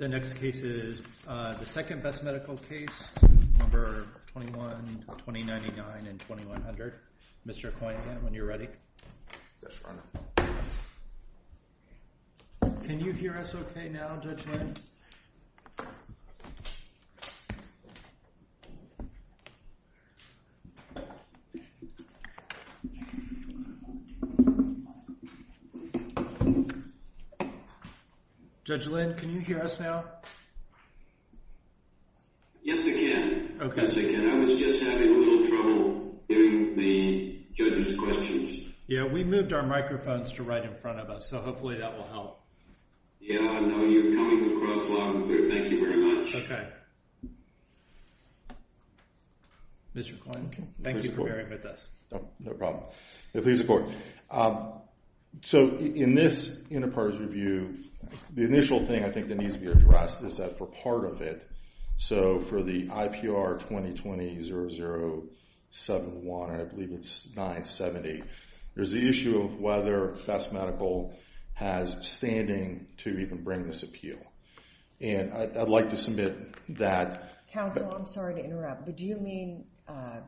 The next case is the second best medical case, No. 21, 2099, and 2100. Mr. Coyne, when you're ready. Yes, Your Honor. Can you hear us okay now, Judge Lynn? Yes, I can, I was just having a little trouble hearing the judge's questions. Yeah, we moved our microphones to right in front of us, so hopefully that will help. Yeah, I know you're coming across loud and clear, thank you very much. Okay. Mr. Coyne, thank you for bearing with us. Oh, no problem, please report. So, in this Interparts Review, the initial thing I think that needs to be addressed is that for part of it, so for the IPR 2020-0071, I believe it's 970, there's the issue of whether Best Medical has standing to even bring this appeal, and I'd like to submit that. Counsel, I'm sorry to interrupt, but do you mean,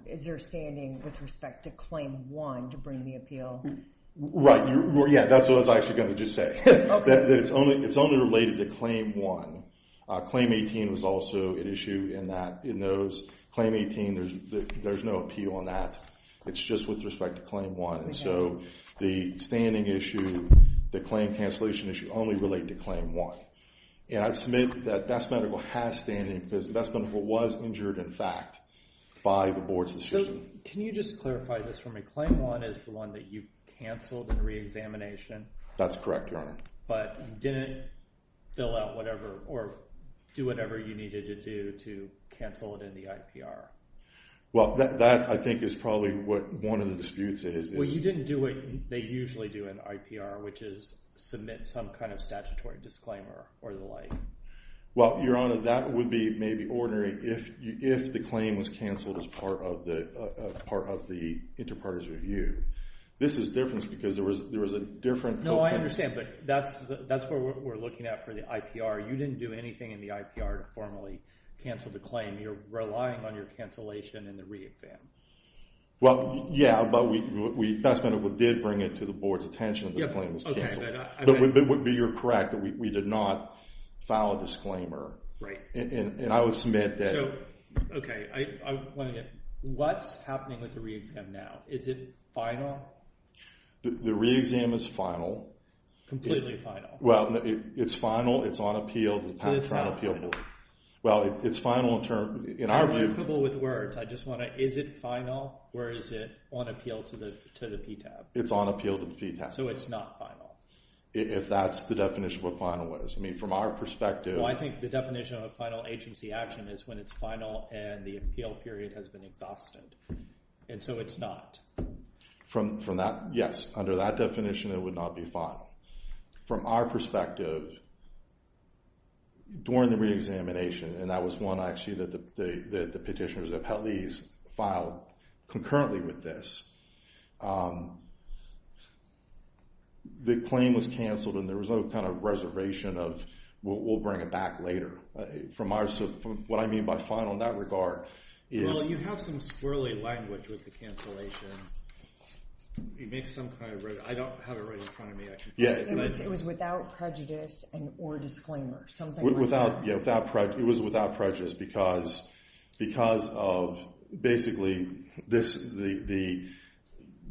is there standing with respect to Claim 1 to bring the appeal? Right, yeah, that's what I was actually going to just say, that it's only related to Claim 1. Claim 18 was also an issue in those. Claim 18, there's no appeal on that, it's just with respect to Claim 1. So, the standing issue, the claim cancellation issue, only relate to Claim 1. And I submit that Best Medical has standing, because Best Medical was injured, in fact, by the board's decision. Can you just clarify this for me? Claim 1 is the one that you canceled in re-examination? That's correct, Your Honor. But you didn't fill out whatever, or do whatever you needed to do to cancel it in the IPR? Well, that I think is probably what one of the disputes is. You didn't do what they usually do in IPR, which is submit some kind of statutory disclaimer, or the like. Well, Your Honor, that would be maybe ordinary if the claim was canceled as part of the Interparties Review. This is different, because there was a different- No, I understand, but that's what we're looking at for the IPR. You didn't do anything in the IPR to formally cancel the claim. You're relying on your cancellation in the re-exam. Well, yeah, but Best Medical did bring it to the board's attention that the claim was canceled. But you're correct that we did not file a disclaimer, and I would submit that- So, okay, I want to get, what's happening with the re-exam now? Is it final? The re-exam is final. Completely final. Well, it's final, it's on appeal, it's on trial appeal. Well, it's final in our view- Coupled with words, I just want to, is it final, or is it on appeal to the PTAB? It's on appeal to the PTAB. So, it's not final? If that's the definition of what final is. I mean, from our perspective- Well, I think the definition of a final agency action is when it's final, and the appeal period has been exhausted. And so, it's not. Yes, under that definition, it would not be final. From our perspective, during the re-examination, and that was one, actually, that the petitioners, the appellees, filed concurrently with this. The claim was canceled, and there was no kind of reservation of, we'll bring it back later. What I mean by final in that regard is- Well, you have some squirrelly language with the cancellation. You make some kind of, I don't have it right in front of me. It was without prejudice, or disclaimer, something like that. It was without prejudice because of, basically,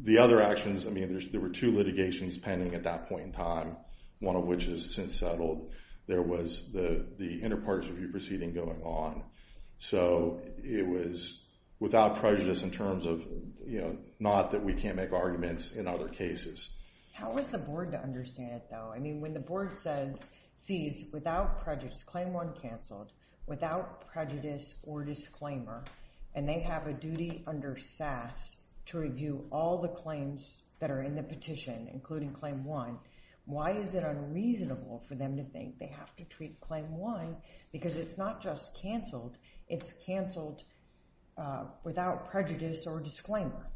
the other actions. I mean, there were two litigations pending at that point in time, one of which has since settled. There was the inter-partisan review proceeding going on. So, it was without prejudice in terms of, not that we can't make arguments in other cases. How was the board to understand it, though? When the board sees, without prejudice, claim one canceled, without prejudice or disclaimer, and they have a duty under SAS to review all the claims that are in the petition, including claim one, why is it unreasonable for them to think they have to treat claim one? Because it's not just canceled, it's canceled without prejudice or disclaimer.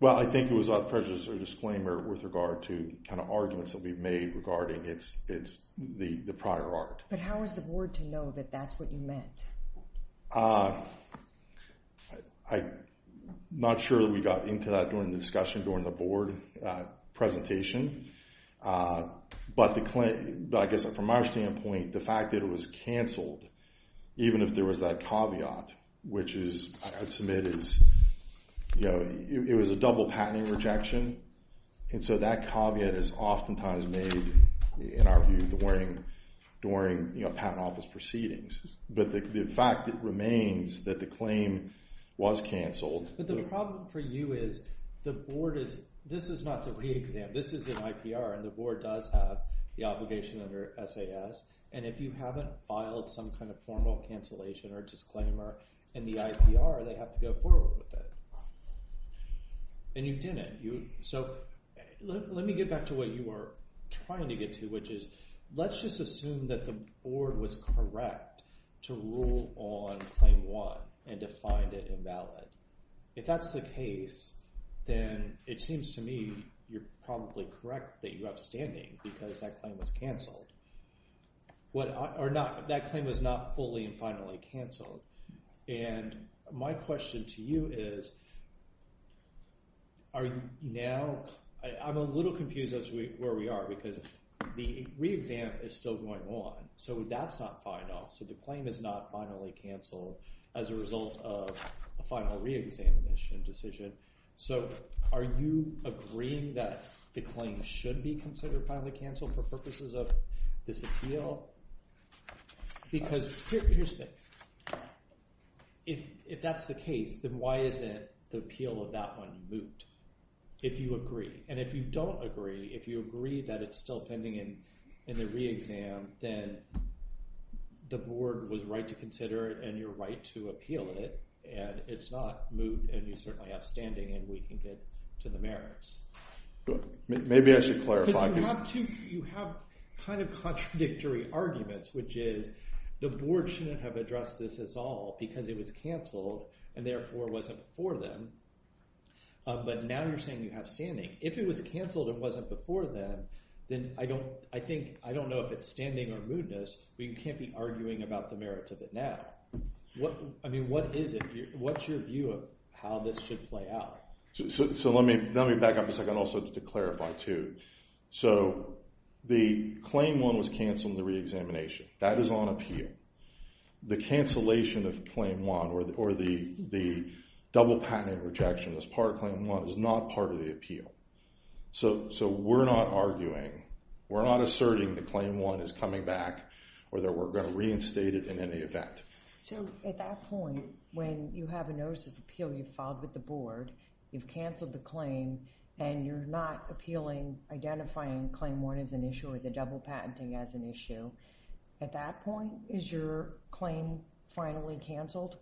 Well, I think it was without prejudice or disclaimer with regard to the kind of arguments that we've made regarding the prior art. But how was the board to know that that's what you meant? I'm not sure that we got into that during the discussion, during the board presentation. But I guess, from our standpoint, the fact that it was canceled, even if there was that caveat, which is, I'd submit is, you know, it was a double patenting rejection. And so that caveat is oftentimes made, in our view, during, you know, patent office proceedings. But the fact remains that the claim was canceled. But the problem for you is, the board is, this is not the re-exam, this is an IPR, and the board does have the obligation under SAS. And if you haven't filed some kind of formal cancellation or disclaimer in the IPR, they have to go forward with it. And you didn't. So let me get back to what you were trying to get to, which is, let's just assume that the board was correct to rule on claim one and to find it invalid. If that's the case, then it seems to me, you're probably correct that you're upstanding because that claim was canceled. Or not, that claim was not fully and finally canceled. And my question to you is, are you now, I'm a little confused as to where we are, because the re-exam is still going on. So that's not final. So the claim is not finally canceled as a result of a final re-examination decision. So are you agreeing that the claim should be considered finally canceled for purposes of this appeal? Because here's the thing. If that's the case, then why isn't the appeal of that one moot? If you agree. And if you don't agree, if you agree that it's still pending in the re-exam, then the board was right to consider it, and you're right to appeal it. And it's not moot, and you're certainly upstanding, and we can get to the merits. But maybe I should clarify. Because you have two, you have kind of contradictory arguments, which is the board shouldn't have addressed this at all because it was canceled and therefore wasn't for them. But now you're saying you have standing. If it was canceled and wasn't before then, then I don't, I think, I don't know if it's standing or mootness, but you can't be arguing about the merits of it now. I mean, what is it? What's your view of how this should play out? So let me back up a second also to clarify, too. So the Claim 1 was canceled in the re-examination. That is on appeal. The cancellation of Claim 1 or the double patent rejection as part of Claim 1 is not part of the appeal. So we're not arguing, we're not asserting that Claim 1 is coming back or that we're going to reinstate it in any event. So at that point, when you have a notice of appeal, you've filed with the board, you've canceled the claim, and you're not appealing, identifying Claim 1 as an issue or the double patenting as an issue, at that point, is your claim finally canceled?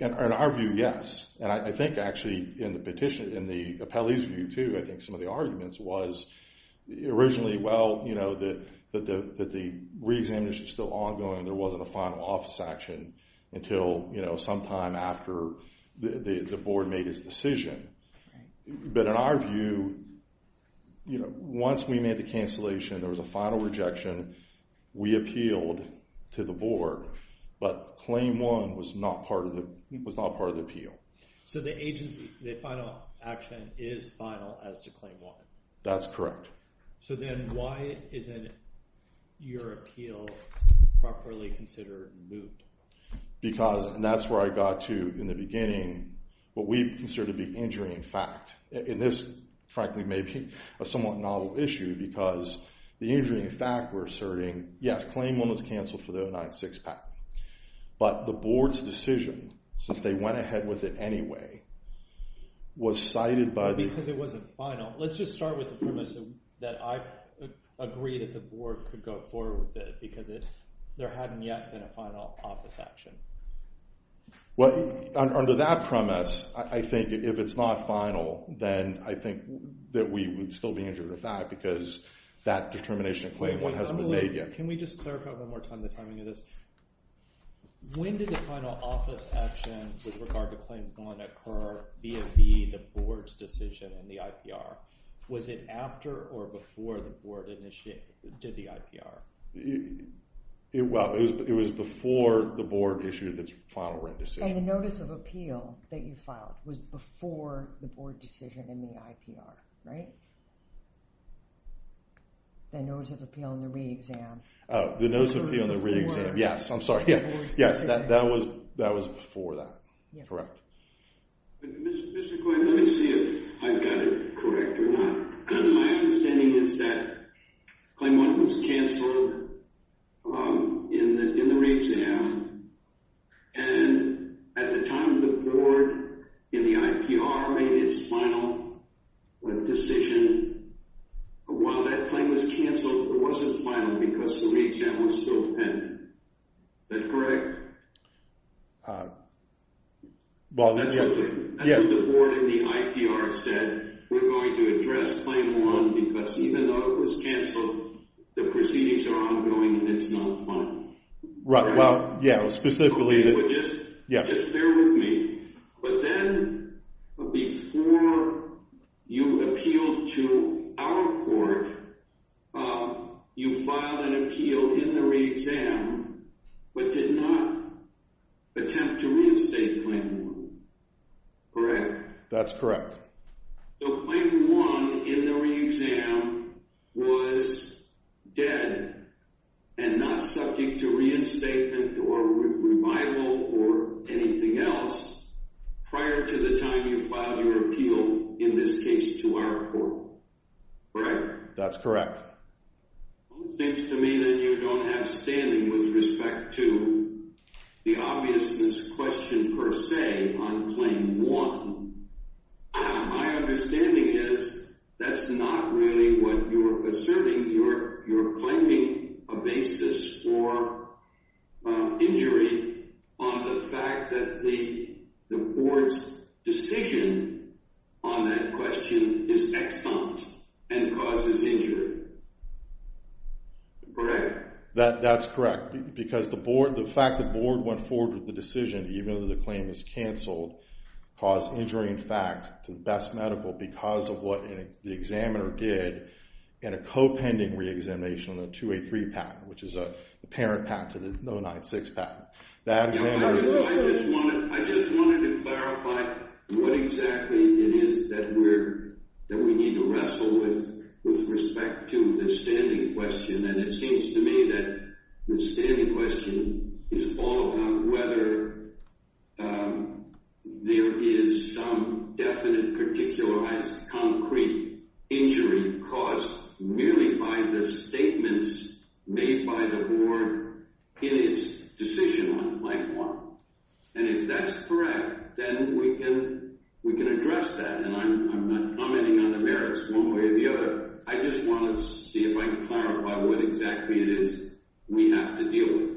In our view, yes. And I think actually in the petition, in the appellee's view, too, I think some of the arguments was originally, well, you know, that the re-examination is still ongoing. There wasn't a final office action until, you know, sometime after the board made its decision. But in our view, you know, once we made the cancellation, there was a final rejection, we appealed to the board. But Claim 1 was not part of the appeal. So the agency, the final action is final as to Claim 1? That's correct. So then why isn't your appeal properly considered and moved? Because, and that's where I got to in the beginning, what we consider to be injuring fact. And this, frankly, may be a somewhat novel issue because the injuring fact we're asserting, yes, Claim 1 was canceled for the 096 patent. But the board's decision, since they went ahead with it anyway, was cited by the- Because it wasn't final. Let's just start with the premise that I agree that the board could go forward with it there hadn't yet been a final office action. Well, under that premise, I think if it's not final, then I think that we would still be injured of fact because that determination of Claim 1 hasn't been made yet. Can we just clarify one more time the timing of this? When did the final office action with regard to Claim 1 occur via the board's decision in the IPR? Was it after or before the board initiated, did the IPR? Well, it was before the board issued its final written decision. And the notice of appeal that you filed was before the board decision in the IPR, right? The notice of appeal in the re-exam. Oh, the notice of appeal in the re-exam. Yes, I'm sorry. Yes, that was before that. Correct. Mr. Coyne, let me see if I've got it correct or not. My understanding is that Claim 1 was canceled in the re-exam. And at the time the board in the IPR made its final decision, while that claim was canceled, it wasn't final because the re-exam was still pending. Is that correct? Well, the board in the IPR said, we're going to address Claim 1 because even though it was canceled, the proceedings are ongoing and it's not final. Right, well, yeah, specifically. Okay, but just bear with me. But then before you appealed to our court, you filed an appeal in the re-exam but did not attempt to reinstate Claim 1, correct? That's correct. So Claim 1 in the re-exam was dead and not subject to reinstatement or revival or anything else prior to the time you filed your appeal, in this case, to our court, correct? That's correct. Well, it seems to me that you don't have standing with respect to the obviousness question per se on Claim 1. Now, my understanding is that's not really what you're asserting. You're claiming a basis for injury on the fact that the board's decision on that question is extant and causes injury, correct? That's correct because the board, the fact that board went forward with the decision, even though the claim is canceled, caused injury, in fact, to the best medical because of what the examiner did in a co-pending re-examination on the 283 patent, which is a parent patent to the 096 patent. I just wanted to clarify what exactly it is that we need to wrestle with respect to the standing question. And it seems to me that the standing question is all about whether there is some definite, particularized, concrete injury caused merely by the statements made by the board in its decision on Claim 1. And if that's correct, then we can address that. And I'm not commenting on the merits one way or the other. I just want to see if I can clarify what exactly it is we have to deal with.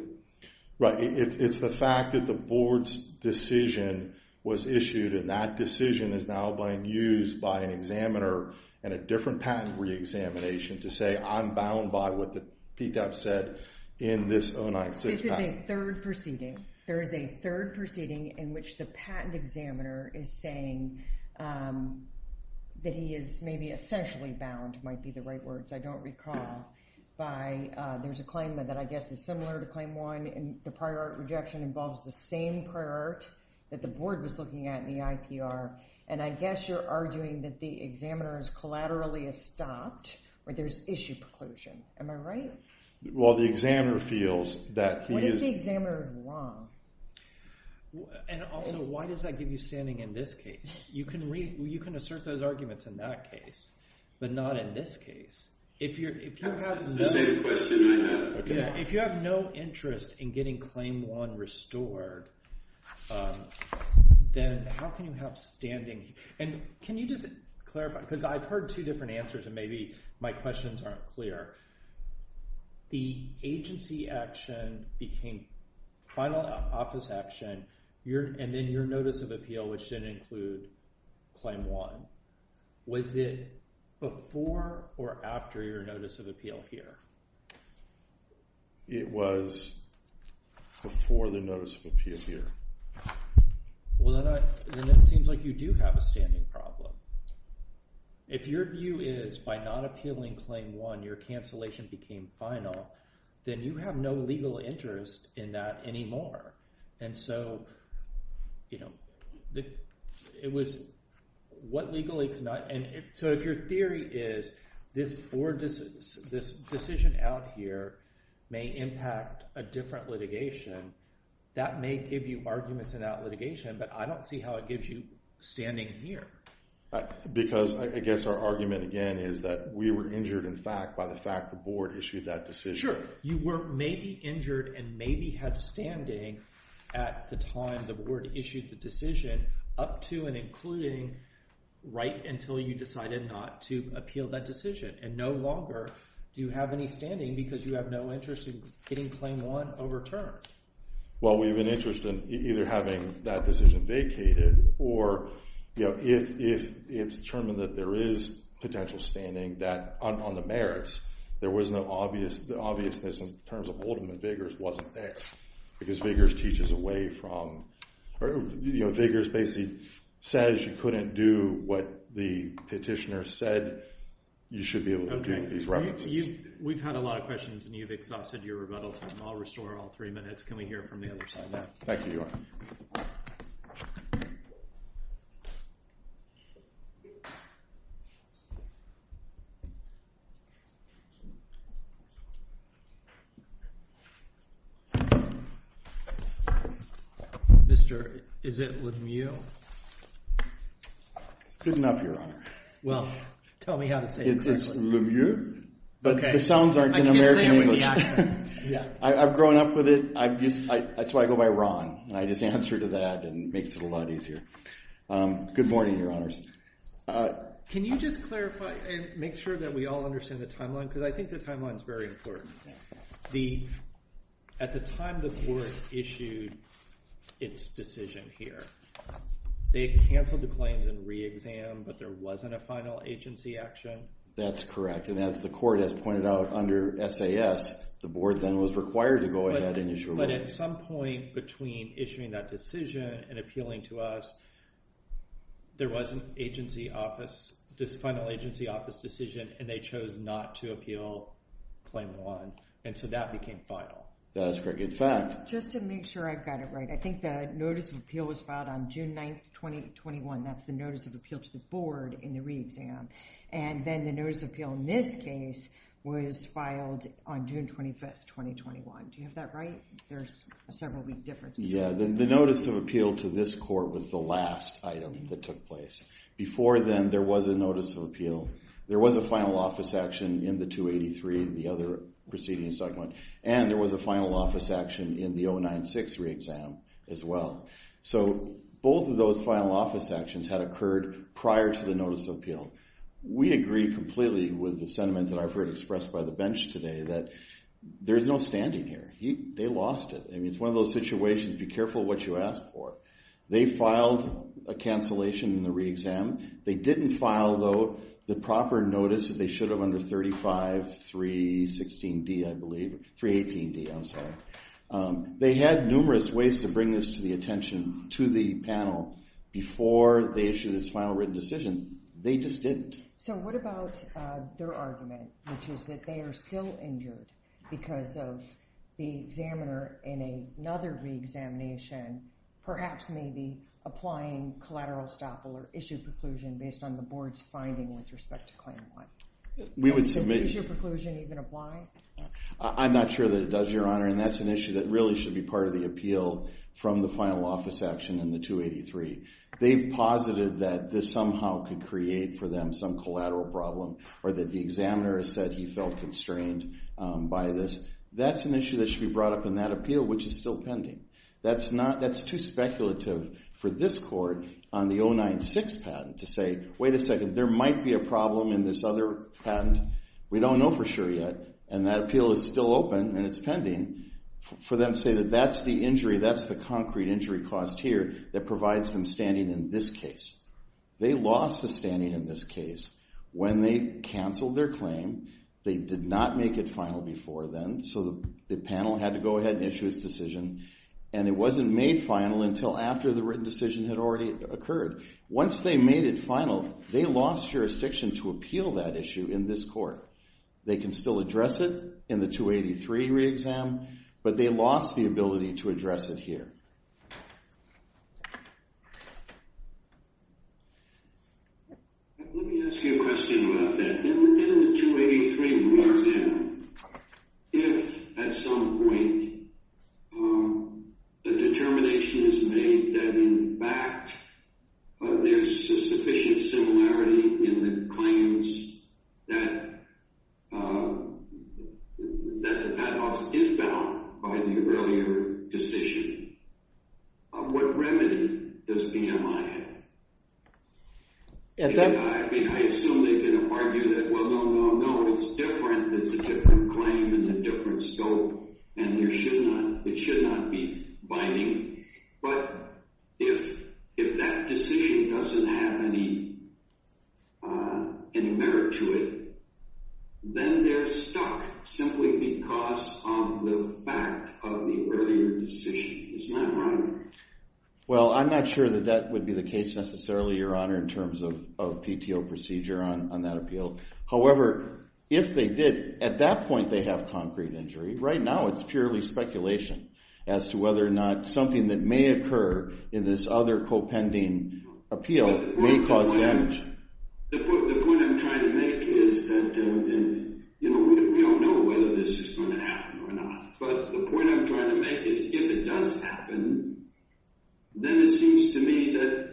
Right. It's the fact that the board's decision was issued and that decision is now being used by an examiner and a different patent re-examination to say, I'm bound by what the PTAP said in this 096 patent. This is a third proceeding. There is a third proceeding in which the patent examiner is saying that he is maybe essentially bound, might be the right words, I don't recall, by there's a claim that I guess is similar to Claim 1 and the prior art rejection involves the same prior art that the board was looking at in the IPR. And I guess you're arguing that the examiner has collaterally stopped or there's issue preclusion. Am I right? Well, the examiner feels that he is... What if the examiner is wrong? And also, why does that give you standing in this case? You can assert those arguments in that case, but not in this case. If you have no interest in getting Claim 1 restored, then how can you have standing? And can you just clarify? Because I've heard two different answers and maybe my questions aren't clear. The agency action became final office action and then your notice of appeal, which didn't include Claim 1. Was it before or after your notice of appeal here? It was before the notice of appeal here. Well, then it seems like you do have a standing problem. If your view is by not appealing Claim 1, your cancellation became final, then you have no legal interest in that anymore. And so, it was what legally could not... And so if your theory is this decision out here may impact a different litigation, that may give you arguments in that litigation, but I don't see how it gives you standing here. Because I guess our argument again is that we were injured in fact by the fact the board issued that decision. Sure. You were maybe injured and maybe had standing at the time the board issued the decision up to and including right until you decided not to appeal that decision. And no longer do you have any standing because you have no interest in getting Claim 1 overturned. Well, we have an interest in either having that decision vacated or if it's determined that there is potential standing that on the merits, there was no obvious... The obviousness in terms of Oldman Vigors wasn't there because Vigors teaches away from... Vigors basically says you couldn't do what the petitioner said you should be able to do with these references. We've had a lot of questions and you've exhausted your rebuttal time. I'll restore all three minutes. Can we hear from the other side now? Thank you, Ewan. Mr. Is it Lemieux? It's good enough, Your Honor. Well, tell me how to say it correctly. It's Lemieux, but the sounds aren't in American English. I can't say it with the accent. I've grown up with it. That's why I go by Ron and I just answer to that and it makes it a lot easier. Good morning, Your Honors. Can you just clarify and make sure we all understand the timeline? Because I think the timeline is very important. At the time the court issued its decision here, they canceled the claims and re-exam, but there wasn't a final agency action? That's correct. And as the court has pointed out under SAS, the board then was required to go ahead and issue... But at some point between issuing that decision and appealing to us, there was an agency office, this final agency office decision, and they chose not to appeal claim one. And so that became final. That's correct. In fact... Just to make sure I've got it right, I think the notice of appeal was filed on June 9th, 2021. That's the notice of appeal to the board in the re-exam. And then the notice of appeal in this case was filed on June 25th, 2021. Do you have that right? There's a several week difference. Yeah, the notice of appeal to this court was the last item that took place. Before then, there was a notice of appeal. There was a final office action in the 283, the other proceeding segment. And there was a final office action in the 096 re-exam as well. So both of those final office actions had occurred prior to the notice of appeal. We agree completely with the sentiment that I've heard expressed by the bench today that there's no standing here. They lost it. I mean, it's one of those situations, be careful what you ask for. They filed a cancellation in the re-exam. They didn't file, though, the proper notice that they should have under 35, 316D, I believe, 318D, I'm sorry. They had numerous ways to bring this to the attention to the panel before they issued this final written decision. They just didn't. So what about their argument, which is that they are still injured because of the examiner in another re-examination, perhaps maybe applying collateral estoppel or issue preclusion based on the board's finding with respect to claim one? And does issue preclusion even apply? I'm not sure that it does, Your Honor. And that's an issue that really should be part of the appeal from the final office action in the 283. They've posited that this somehow could create for them some collateral problem or that the examiner has said he felt constrained by this. That's an issue that should be brought up in that appeal, which is still pending. That's too speculative for this court on the 096 patent to say, wait a second, there might be a problem in this other patent. We don't know for sure yet. And that appeal is still open and it's pending for them to say that that's the injury, that's the concrete injury cost here that provides them standing in this case. They lost the standing in this case when they canceled their claim. They did not make it final before then. So the panel had to go ahead and issue its decision. And it wasn't made final until after the written decision had already occurred. Once they made it final, they lost jurisdiction to appeal that issue in this court. They can still address it in the 283 re-exam, but they lost the ability to address it here. Let me ask you a question about that. In the 283 re-exam, if at some point the determination is made that, in fact, there's a sufficient similarity in the claims that the padlocks is bound by the earlier decision, what remedy does BMI have? I assume they can argue that, well, no, no, no, it's different. It's a different claim and a different scope, and it should not be binding. But if that decision doesn't have any merit to it, then they're stuck simply because of the fact of the earlier decision. It's not wrong. Well, I'm not sure that that would be the case necessarily, Your Honor, in terms of PTO procedure on that appeal. However, if they did, at that point they have concrete injury. Right now it's purely speculation as to whether or not something that may occur in this other co-pending appeal may cause damage. The point I'm trying to make is that we don't know whether this is going to happen or not. But the point I'm trying to make is if it does happen, then it seems to me that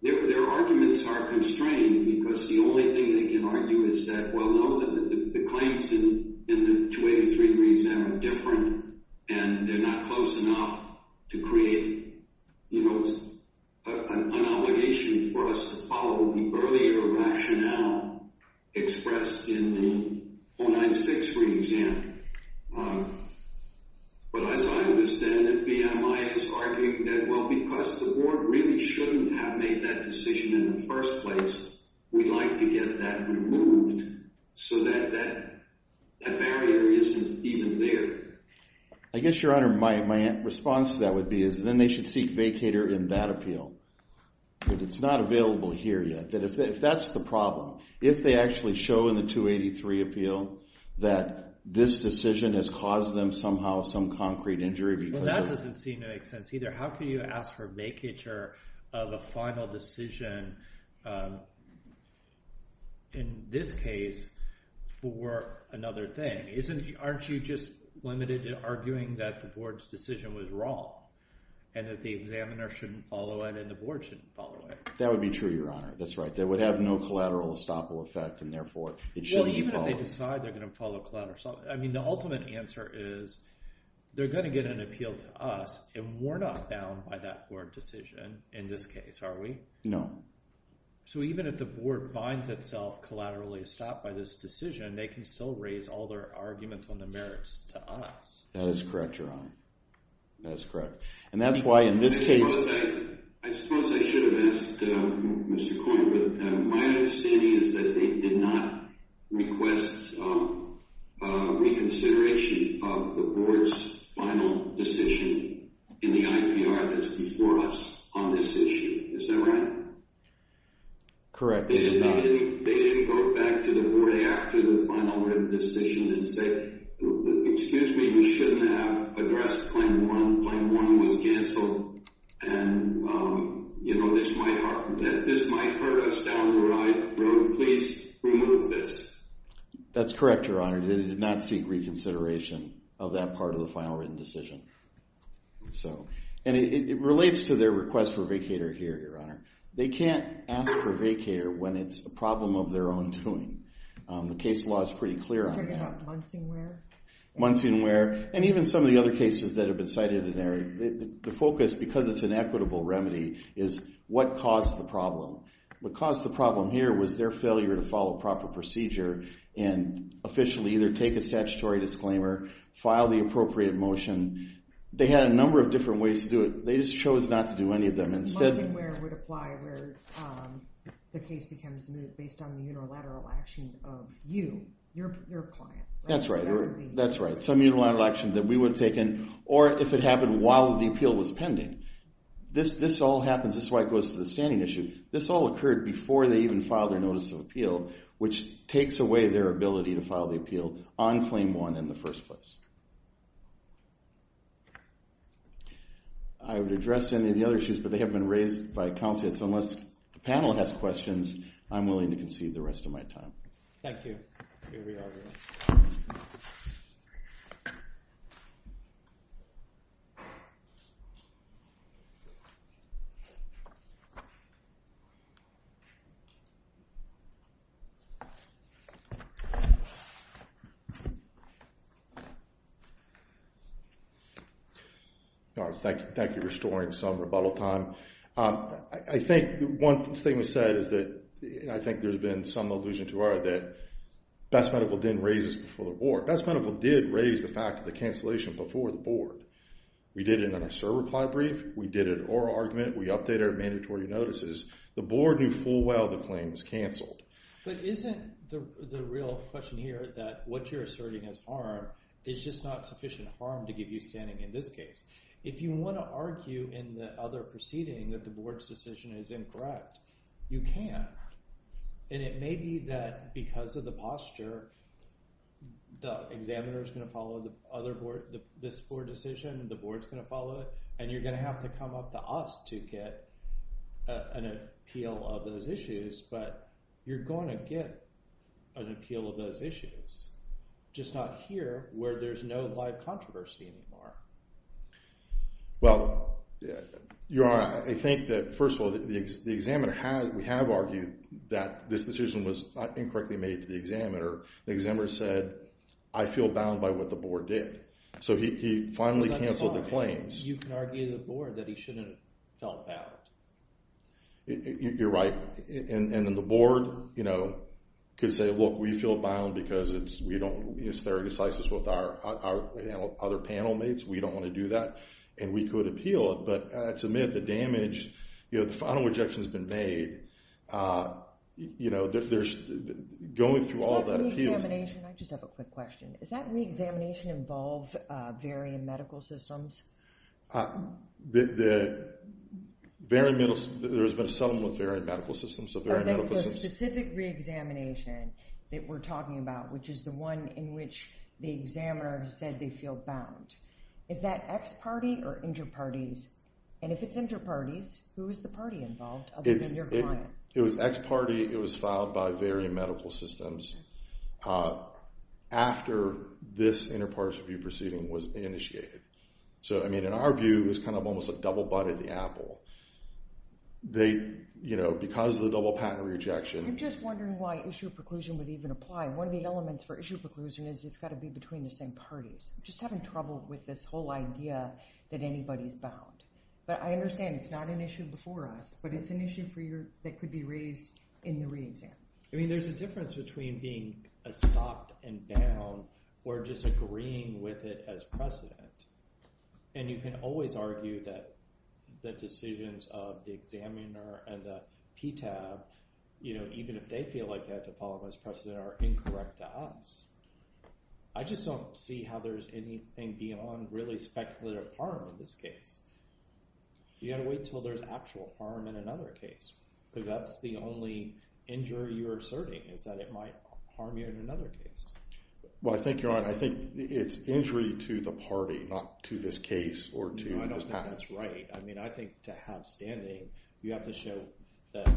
their arguments are constrained because the only thing they can argue is that, well, no, the claims in the 283 reason are different, and they're not close enough to create an obligation for us to follow the earlier rationale expressed in the 496 free exam. But as I understand it, BMI is arguing that, well, because the board really shouldn't have made that decision in the first place, we'd like to get that removed so that that barrier isn't even there. I guess, Your Honor, my response to that would be is then they should seek vacator in that appeal. But it's not available here yet. That if that's the problem, if they actually show in the 283 appeal that this decision has caused them some concrete injury because of- Well, that doesn't seem to make sense either. How can you ask for vacator of a final decision in this case for another thing? Aren't you just limited to arguing that the board's decision was wrong and that the examiner shouldn't follow it and the board shouldn't follow it? That would be true, Your Honor. That's right. That would have no collateral estoppel effect, and therefore it shouldn't be followed. Well, even if they decide they're going to follow collateral, the ultimate answer is they're going to get an appeal to us and we're not bound by that board decision in this case, are we? No. So even if the board finds itself collaterally stopped by this decision, they can still raise all their arguments on the merits to us. That is correct, Your Honor. That is correct. And that's why in this case- I suppose I should have asked Mr. Coyne, but my understanding is that they did not request reconsideration of the board's final decision in the IPR that's before us on this issue. Is that right? Correct, Your Honor. They didn't go back to the board after the final written decision and say, excuse me, we shouldn't have addressed Claim 1. Claim 1 was canceled and this might hurt us down the road. Please remove this. That's correct, Your Honor. They did not seek reconsideration of that part of the final written decision. And it relates to their request for a vacator here, Your Honor. They can't ask for a vacator when it's a problem of their own doing. The case law is pretty clear on that. Are you talking about Munsingware? Munsingware. And even some of the other cases that have been cited in there, the focus, because it's an equitable remedy, is what caused the problem. What caused the problem here was their failure to follow proper procedure and officially either take a statutory disclaimer, file the appropriate motion. They had a number of different ways to do it. They just chose not to do any of them. Munsingware would apply where the case becomes moved based on the unilateral action of you, your client. That's right, that's right. Some unilateral action that we would have taken or if it happened while the appeal was pending. This all happens, this is why it goes to the standing issue. This all occurred before they even filed their notice of appeal, which takes away their ability to file the appeal on claim one in the first place. I would address any of the other issues, but they have been raised by counselors. Unless the panel has questions, I'm willing to concede the rest of my time. Thank you. All right, thank you. Thank you for storing some rebuttal time. I think one thing we said is that, I think there's been some allusion to our that Best Medical didn't raise this before the board. Best Medical did raise the fact of the cancellation before the board. We did it in our server client brief. We did an oral argument. We updated our mandatory notices. The board knew full well the claim was canceled. But isn't the real question here that what you're asserting as harm is just not sufficient harm to give you standing in this case? If you want to argue in the other proceeding that the board's decision is incorrect, you can. And it may be that because of the posture, the examiner is going to follow the other board, this board decision, and the board's going to follow it. And you're going to have to come up to us to get an appeal of those issues. But you're going to get an appeal of those issues. Just not here, where there's no live controversy anymore. Well, you're right. I think that, first of all, the examiner has, we have argued that this decision was incorrectly made to the examiner. The examiner said, I feel bound by what the board did. So he finally canceled the claims. You can argue to the board that he shouldn't have felt bound. You're right. And then the board, you know, could say, look, we feel bound because it's very decisive with our other panel mates. We don't want to do that. And we could appeal it. But to admit the damage, you know, the final rejection has been made. You know, there's going through all that. Is that re-examination? I just have a quick question. Is that re-examination involve varying medical systems? The very middle, there has been a settlement with varying medical systems. So varying medical systems. The specific re-examination that we're talking about, which is the one in which the examiner said they feel bound. Is that ex-party or inter-parties? And if it's inter-parties, who is the party involved? Other than your client. It was ex-party. It was filed by varying medical systems after this inter-party review proceeding was initiated. So, I mean, in our view, it's kind of almost like double butted the apple. They, you know, because of the double patent rejection. I'm just wondering why issue of preclusion would even apply. One of the elements for issue of preclusion is it's got to be between the same parties. Just having trouble with this whole idea that anybody's bound. But I understand it's not an issue before us, but it's an issue for your, that could be raised in the re-exam. I mean, there's a difference between being a stopped and bound or just agreeing with it as precedent. And you can always argue that the decisions of the examiner and the PTAB, you know, even if they feel like that the problem is precedent are incorrect to us. I just don't see how there's anything beyond really speculative harm in this case. You gotta wait till there's actual harm in another case. Because that's the only injury you're asserting is that it might harm you in another case. Well, I think you're on. I think it's injury to the party, not to this case or to this patent. No, I don't think that's right. I mean, I think to have standing, you have to show that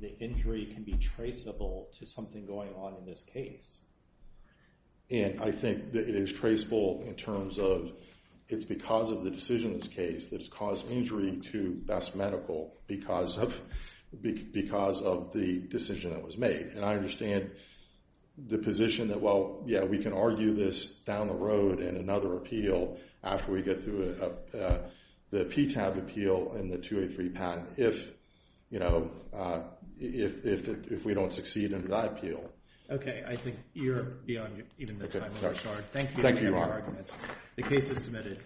the injury can be traceable to something going on in this case. And I think that it is traceable in terms of it's because of the decision in this case that has caused injury to Best Medical because of the decision that was made. And I understand the position that, well, yeah, we can argue this down the road in another appeal after we get through the PTAB appeal and the 283 patent if we don't succeed in that appeal. Okay, I think you're beyond even the time limit, sir. Thank you for your arguments. The case is submitted.